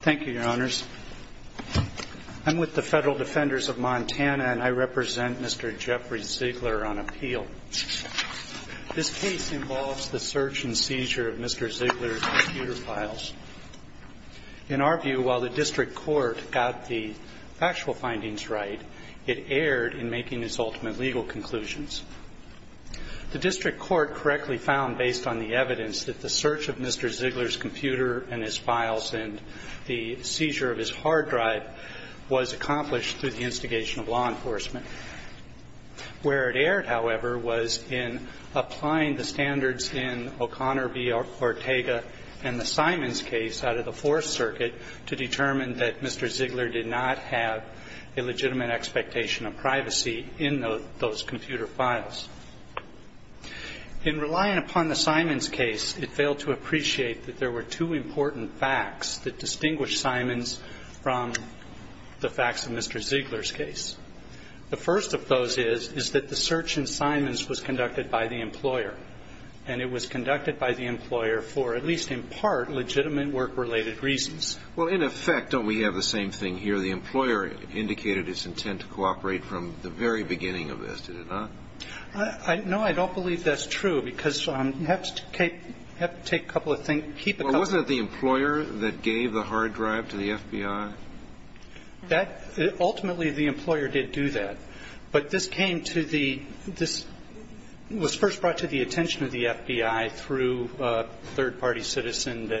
Thank you, Your Honors. I'm with the Federal Defenders of Montana, and I represent Mr. Jeffrey Ziegler on appeal. This case involves the search and seizure of Mr. Ziegler's computer files. In our view, while the district court got the factual findings right, it erred in making its ultimate legal conclusions. The district court correctly found, based on the evidence, that the search of Mr. Ziegler's computer files and the seizure of his hard drive was accomplished through the instigation of law enforcement. Where it erred, however, was in applying the standards in O'Connor v. Ortega and the Simons case out of the Fourth Circuit to determine that Mr. Ziegler did not have a legitimate expectation of privacy in those computer files. In relying upon the Simons case, it failed to appreciate that there were two important facts that distinguish Simons from the facts of Mr. Ziegler's case. The first of those is that the search in Simons was conducted by the employer, and it was conducted by the employer for, at least in part, legitimate work-related reasons. Well, in effect, don't we have the same thing here? The employer indicated its intent to cooperate from the very beginning of this, did it not? No, I don't believe that's true, because you have to take a couple of things, keep a couple of things. Well, wasn't it the employer that gave the hard drive to the FBI? Ultimately, the employer did do that. But this came to the – this was first brought to the attention of the FBI through a third-party citizen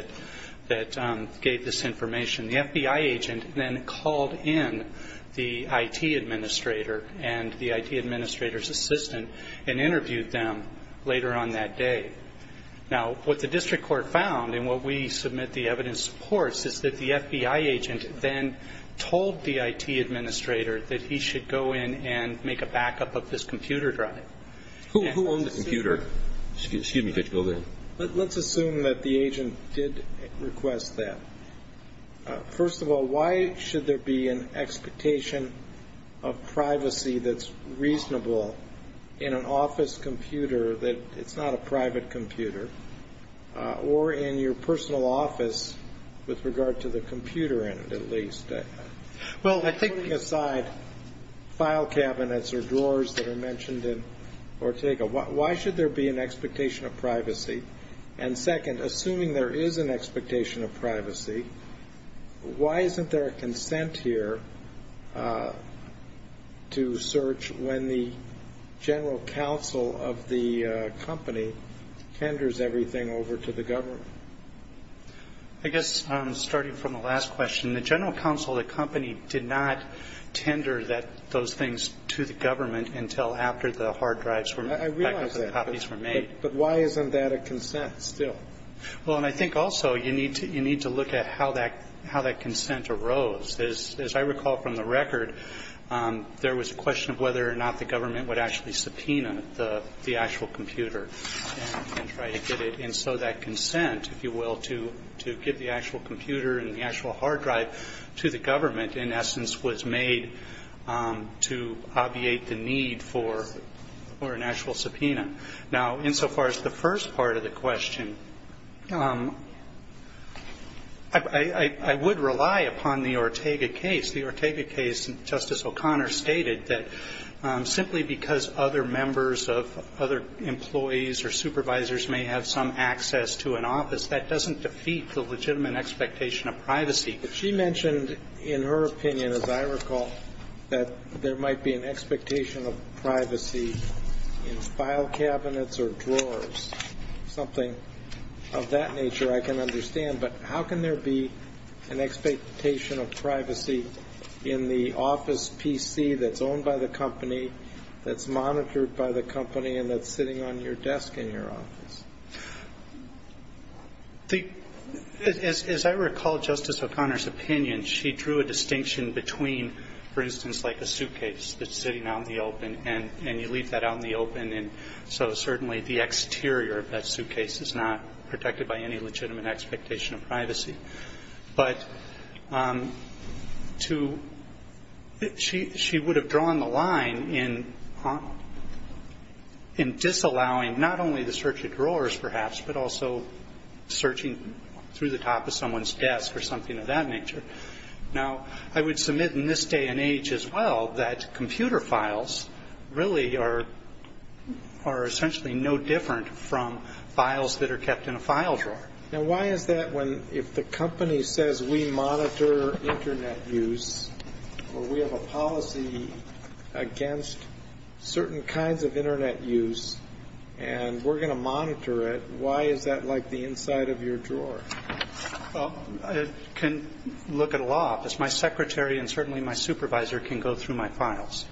that gave this information. The FBI agent then called in the IT administrator and the IT administrator's assistant and interviewed them later on that day. Now, what the district court found, and what we submit the evidence supports, is that the FBI agent then told the IT administrator that he should go in and make a backup of this computer drive. Who owned the computer? Excuse me. Let's assume that the agent did request that. First of all, why should there be an expectation of privacy that's reasonable in an office computer that it's not a private computer, or in your personal office with regard to the computer in it, at least? Well, taking aside file cabinets or drawers that are mentioned in Ortega, why should there be an expectation of privacy? And second, assuming there is an expectation of privacy, why isn't there a consent here to search when the general counsel of the company tenders everything over to the government? I guess starting from the last question, the general counsel of the company did not tender those things to the government until after the hard drives were – I realize that. The copies were made. But why isn't that a consent still? Well, and I think also you need to look at how that consent arose. As I recall from the record, there was a question of whether or not the government would actually subpoena the actual computer and try to get it. And so that consent, if you will, to give the actual computer and the actual hard drive to the government, in essence, was made to obviate the need for an actual subpoena. Now, insofar as the first part of the question, I would rely upon the Ortega case. The Ortega case, Justice O'Connor stated, that simply because other members of other employees or supervisors may have some access to an office, that doesn't defeat the legitimate expectation of privacy. But she mentioned in her opinion, as I recall, that there might be an expectation of privacy in file cabinets or drawers, something of that nature I can understand. But how can there be an expectation of privacy in the office PC that's owned by the company, that's monitored by the company, and that's sitting on your desk in your office? As I recall Justice O'Connor's opinion, she drew a distinction between, for instance, like a suitcase that's sitting out in the open, and you leave that out in the open, and so certainly the exterior of that suitcase is not protected by any legitimate expectation of privacy. But she would have drawn the line in disallowing not only the search of drawers, perhaps, but also searching through the top of someone's desk or something of that nature. Now, I would submit in this day and age as well, that computer files really are essentially no different from files that are kept in a file drawer. Now, why is that when, if the company says we monitor Internet use, or we have a policy against certain kinds of Internet use, and we're going to monitor it, why is that like the inside of your drawer? I can look at a law office. My secretary and certainly my supervisor can go through my files.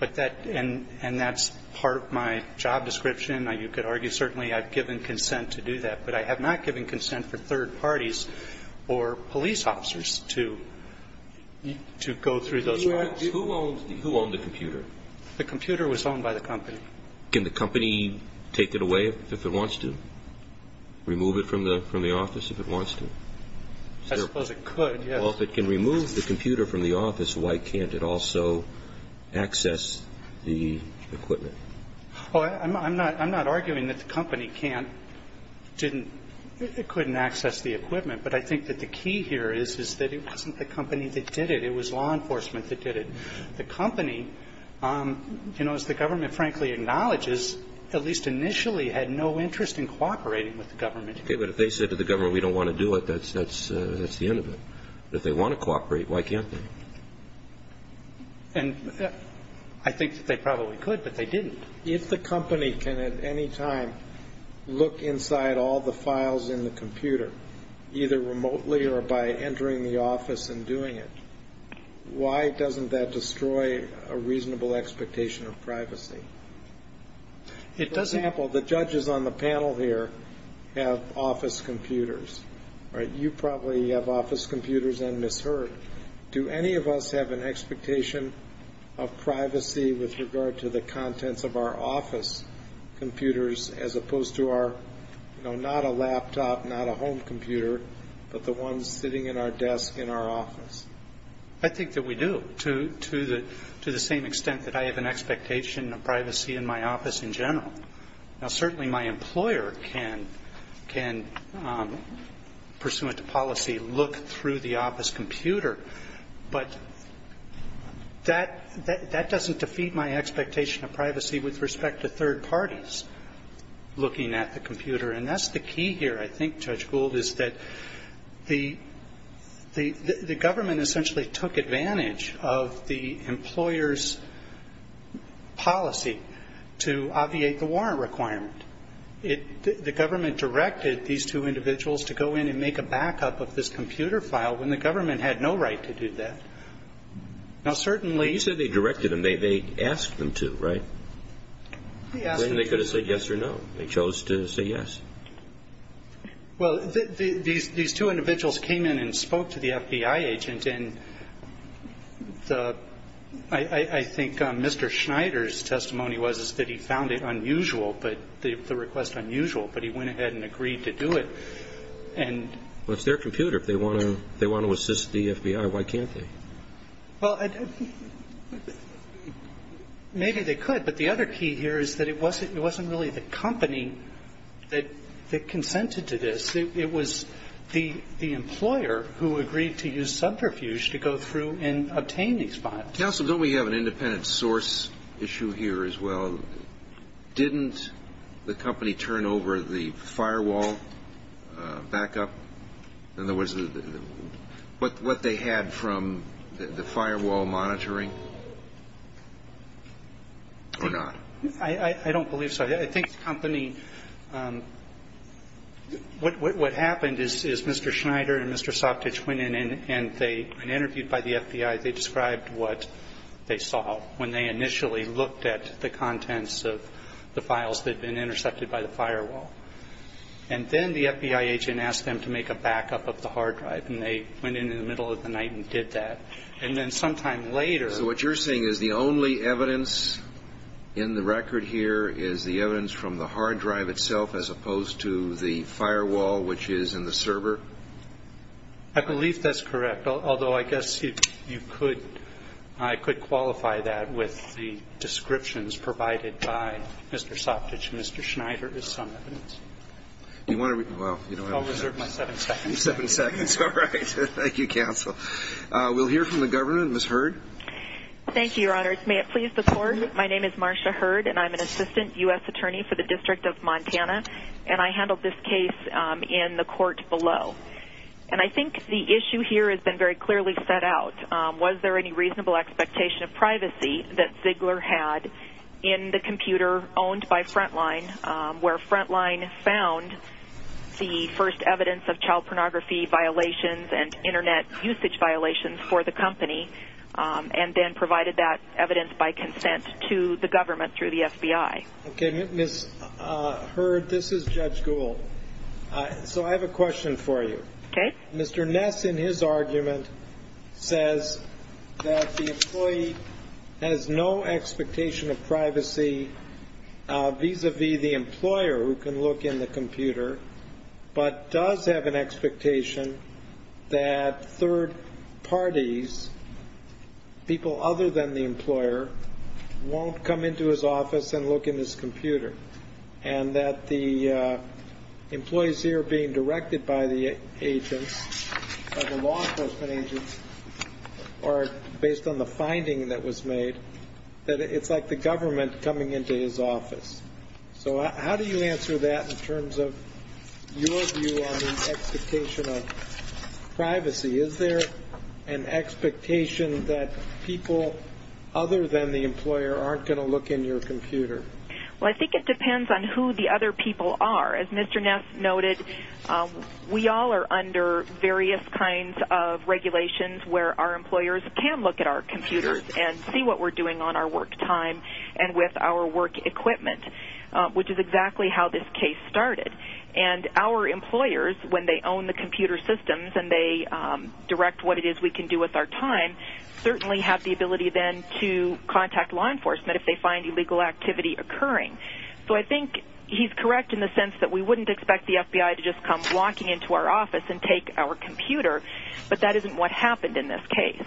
And that's part of my job description. You could argue certainly I've given consent to do that. But I have not given consent for third parties or police officers to go through those files. Who owns the computer? The computer was owned by the company. Can the company take it away if it wants to? Remove it from the office if it wants to? I suppose it could, yes. Well, if it can remove the computer from the office, why can't it also access the equipment? Well, I'm not arguing that the company can't, couldn't access the equipment. But I think that the key here is that it wasn't the company that did it. It was law enforcement that did it. The company, you know, as the government frankly acknowledges, at least initially had no interest in cooperating with the government. Okay. But if they said to the government we don't want to do it, that's the end of it. If they want to cooperate, why can't they? And I think that they probably could, but they didn't. If the company can at any time look inside all the files in the computer, either remotely or by entering the office and doing it, why doesn't that destroy a reasonable expectation of privacy? For example, the judges on the panel here have office computers. You probably have office computers and misheard. Do any of us have an expectation of privacy with regard to the contents of our office computers as opposed to our, you know, not a laptop, not a home computer, but the ones sitting in our desk in our office? I think that we do to the same extent that I have an expectation of privacy in my office in general. Now, certainly my employer can, pursuant to policy, look through the office computer, but that doesn't defeat my expectation of privacy with respect to third parties looking at the computer. And that's the key here, I think, Judge Gould, is that the government essentially took advantage of the employer's policy to obviate the warrant requirement. The government directed these two individuals to go in and make a backup of this computer file when the government had no right to do that. Now, certainly- Well, you said they directed them. They asked them to, right? They asked them to. Then they could have said yes or no. They chose to say yes. Well, these two individuals came in and spoke to the FBI agent, and I think Mr. Schneider's testimony was that he found it unusual, the request unusual, but he went ahead and agreed to do it. Well, it's their computer. If they want to assist the FBI, why can't they? Well, maybe they could, But the other key here is that it wasn't really the company that consented to this. It was the employer who agreed to use subterfuge to go through and obtain these files. Counsel, don't we have an independent source issue here as well? Didn't the company turn over the firewall backup? In other words, what they had from the firewall monitoring? Or not? I don't believe so. I think the company – what happened is Mr. Schneider and Mr. Sopcich went in, and they were interviewed by the FBI. They described what they saw when they initially looked at the contents of the files that had been intercepted by the firewall. And then the FBI agent asked them to make a backup of the hard drive, and they went in in the middle of the night and did that. And then sometime later – So what you're saying is the only evidence in the record here is the evidence from the hard drive itself as opposed to the firewall, which is in the server? I believe that's correct, although I guess you could – I could qualify that with the descriptions provided by Mr. Sopcich and Mr. Schneider as some evidence. You want to – well, you know – I'll reserve my seven seconds. Seven seconds. All right. Thank you, Counsel. We'll hear from the governor. Ms. Hurd. Thank you, Your Honor. May it please the Court, my name is Marsha Hurd, and I'm an assistant U.S. attorney for the District of Montana, and I handled this case in the court below. And I think the issue here has been very clearly set out. Was there any reasonable expectation of privacy that Ziegler had in the computer owned by Frontline where Frontline found the first evidence of child pornography violations and Internet usage violations for the company and then provided that evidence by consent to the government through the FBI? Okay. Ms. Hurd, this is Judge Gould. So I have a question for you. Okay. Mr. Ness, in his argument, says that the employee has no expectation of privacy vis-a-vis the employer who can look in the computer but does have an expectation that third parties, people other than the employer, won't come into his office and look in his computer and that the employees here being directed by the agents, by the law enforcement agents, or based on the finding that was made, that it's like the government coming into his office. So how do you answer that in terms of your view on the expectation of privacy? Is there an expectation that people other than the employer aren't going to look in your computer? Well, I think it depends on who the other people are. As Mr. Ness noted, we all are under various kinds of regulations where our employers can look at our computers and see what we're doing on our work time and with our work equipment, which is exactly how this case started. And our employers, when they own the computer systems and they direct what it is we can do with our time, certainly have the ability then to contact law enforcement if they find illegal activity occurring. So I think he's correct in the sense that we wouldn't expect the FBI to just come walking into our office and take our computer, but that isn't what happened in this case.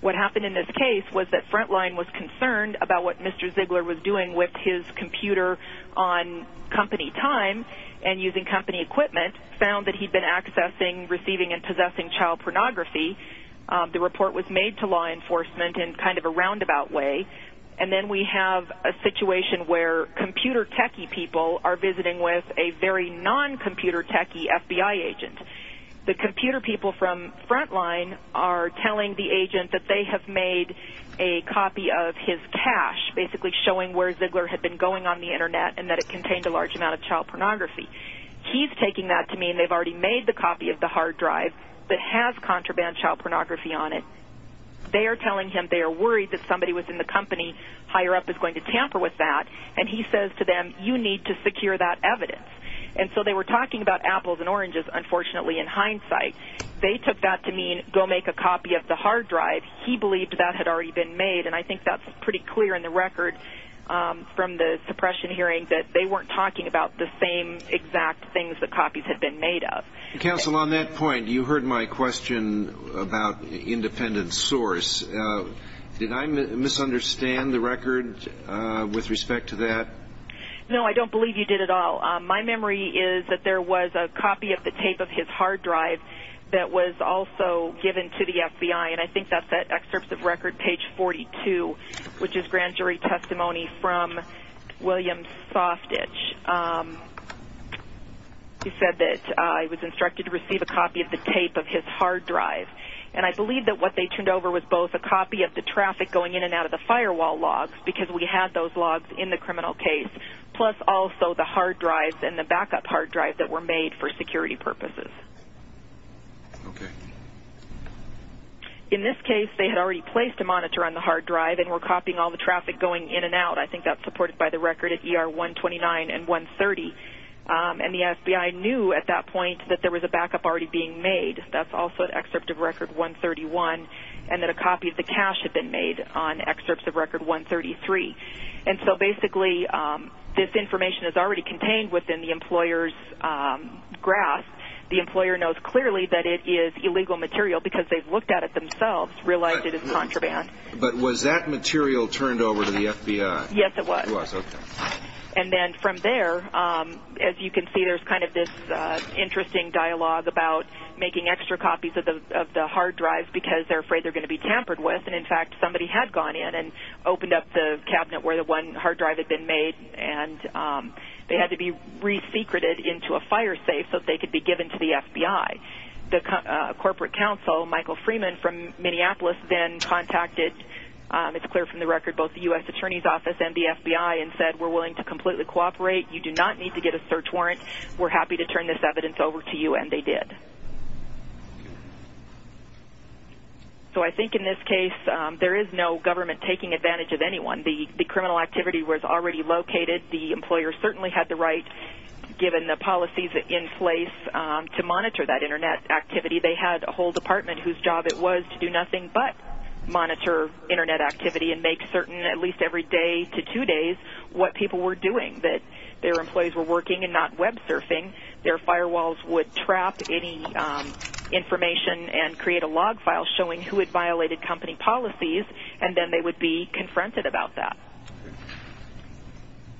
What happened in this case was that Frontline was concerned about what Mr. Ziegler was doing with his computer on company time and using company equipment, found that he'd been accessing, receiving, and possessing child pornography. The report was made to law enforcement in kind of a roundabout way. And then we have a situation where computer techie people are visiting with a very non-computer techie FBI agent. The computer people from Frontline are telling the agent that they have made a copy of his cache, basically showing where Ziegler had been going on the Internet and that it contained a large amount of child pornography. He's taking that to mean they've already made the copy of the hard drive that has contraband child pornography on it. They are telling him they are worried that somebody within the company higher up is going to tamper with that, and he says to them, you need to secure that evidence. And so they were talking about apples and oranges, unfortunately, in hindsight. They took that to mean go make a copy of the hard drive. He believed that had already been made, and I think that's pretty clear in the record from the suppression hearing that they weren't talking about the same exact things the copies had been made of. Counsel, on that point, you heard my question about independent source. Did I misunderstand the record with respect to that? No, I don't believe you did at all. My memory is that there was a copy of the tape of his hard drive that was also given to the FBI, and I think that's at Excerpts of Record, page 42, which is grand jury testimony from William Softitch. He said that he was instructed to receive a copy of the tape of his hard drive, and I believe that what they turned over was both a copy of the traffic going in and out of the firewall logs because we had those logs in the criminal case, plus also the hard drives and the backup hard drives that were made for security purposes. Okay. In this case, they had already placed a monitor on the hard drive and were copying all the traffic going in and out. I think that's supported by the record at ER 129 and 130, and the FBI knew at that point that there was a backup already being made. That's also at Excerpts of Record 131, and that a copy of the cache had been made on Excerpts of Record 133. And so basically this information is already contained within the employer's grasp. The employer knows clearly that it is illegal material because they've looked at it themselves, realized it is contraband. But was that material turned over to the FBI? Yes, it was. It was, okay. And then from there, as you can see, there's kind of this interesting dialogue about making extra copies of the hard drives because they're afraid they're going to be tampered with, and in fact somebody had gone in and opened up the cabinet where the one hard drive had been made, and they had to be resecreted into a fire safe so they could be given to the FBI. The corporate counsel, Michael Freeman from Minneapolis, then contacted, it's clear from the record, both the U.S. Attorney's Office and the FBI and said we're willing to completely cooperate. You do not need to get a search warrant. We're happy to turn this evidence over to you, and they did. So I think in this case there is no government taking advantage of anyone. The criminal activity was already located. The employer certainly had the right, given the policies in place, to monitor that Internet activity. They had a whole department whose job it was to do nothing but monitor Internet activity and make certain at least every day to two days what people were doing, that their employees were working and not web surfing. Their firewalls would trap any information and create a log file showing who had violated company policies, and then they would be confronted about that.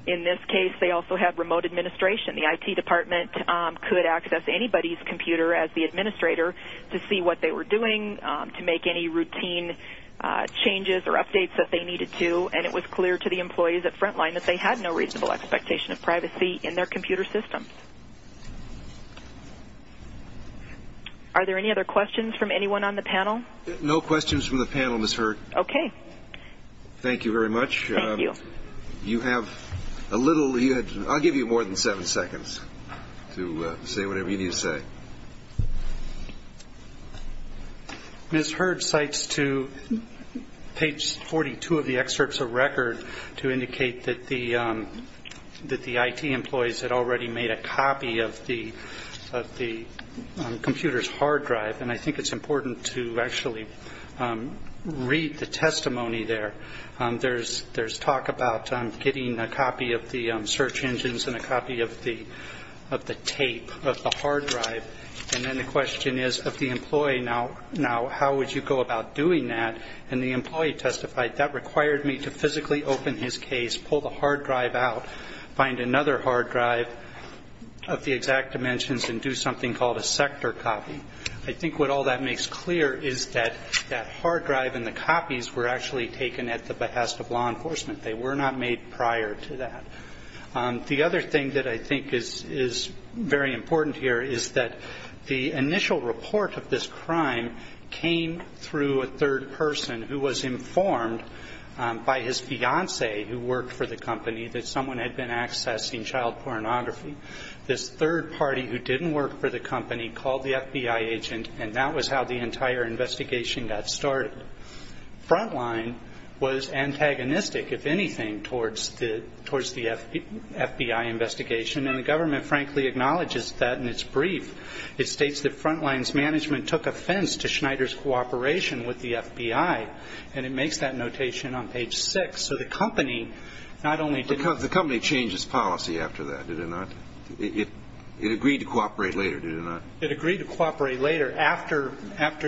In this case they also had remote administration. The IT department could access anybody's computer as the administrator to see what they were doing, to make any routine changes or updates that they needed to, and it was clear to the employees at Frontline that they had no reasonable expectation of privacy in their computer system. Are there any other questions from anyone on the panel? No questions from the panel, Ms. Hurd. Okay. Thank you very much. Thank you. You have a little. I'll give you more than seven seconds to say whatever you need to say. Ms. Hurd cites to page 42 of the excerpts of record to indicate that the IT employees had already made a copy of the computer's hard drive, and I think it's important to actually read the testimony there. There's talk about getting a copy of the search engines and a copy of the tape of the hard drive, and then the question is of the employee now, how would you go about doing that? And the employee testified, that required me to physically open his case, pull the hard drive out, find another hard drive of the exact dimensions, and do something called a sector copy. I think what all that makes clear is that that hard drive and the copies were actually taken at the behest of law enforcement. They were not made prior to that. The other thing that I think is very important here is that the initial report of this crime came through a third person who was informed by his fiancee who worked for the company that someone had been accessing child pornography. This third party who didn't work for the company called the FBI agent, and that was how the entire investigation got started. Frontline was antagonistic, if anything, towards the FBI investigation, and the government frankly acknowledges that in its brief. It states that Frontline's management took offense to Schneider's cooperation with the FBI, and it makes that notation on page 6. So the company not only did not... The company changed its policy after that, did it not? It agreed to cooperate later, did it not? It agreed to cooperate later after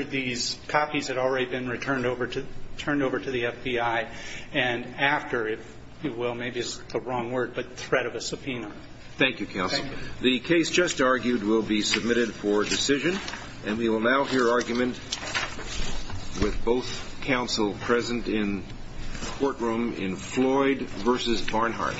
these copies had already been returned over to the FBI, and after, if you will, maybe it's the wrong word, but threat of a subpoena. Thank you, counsel. The case just argued will be submitted for decision, and we will now hear argument with both counsel present in courtroom in Floyd v. Barnhart.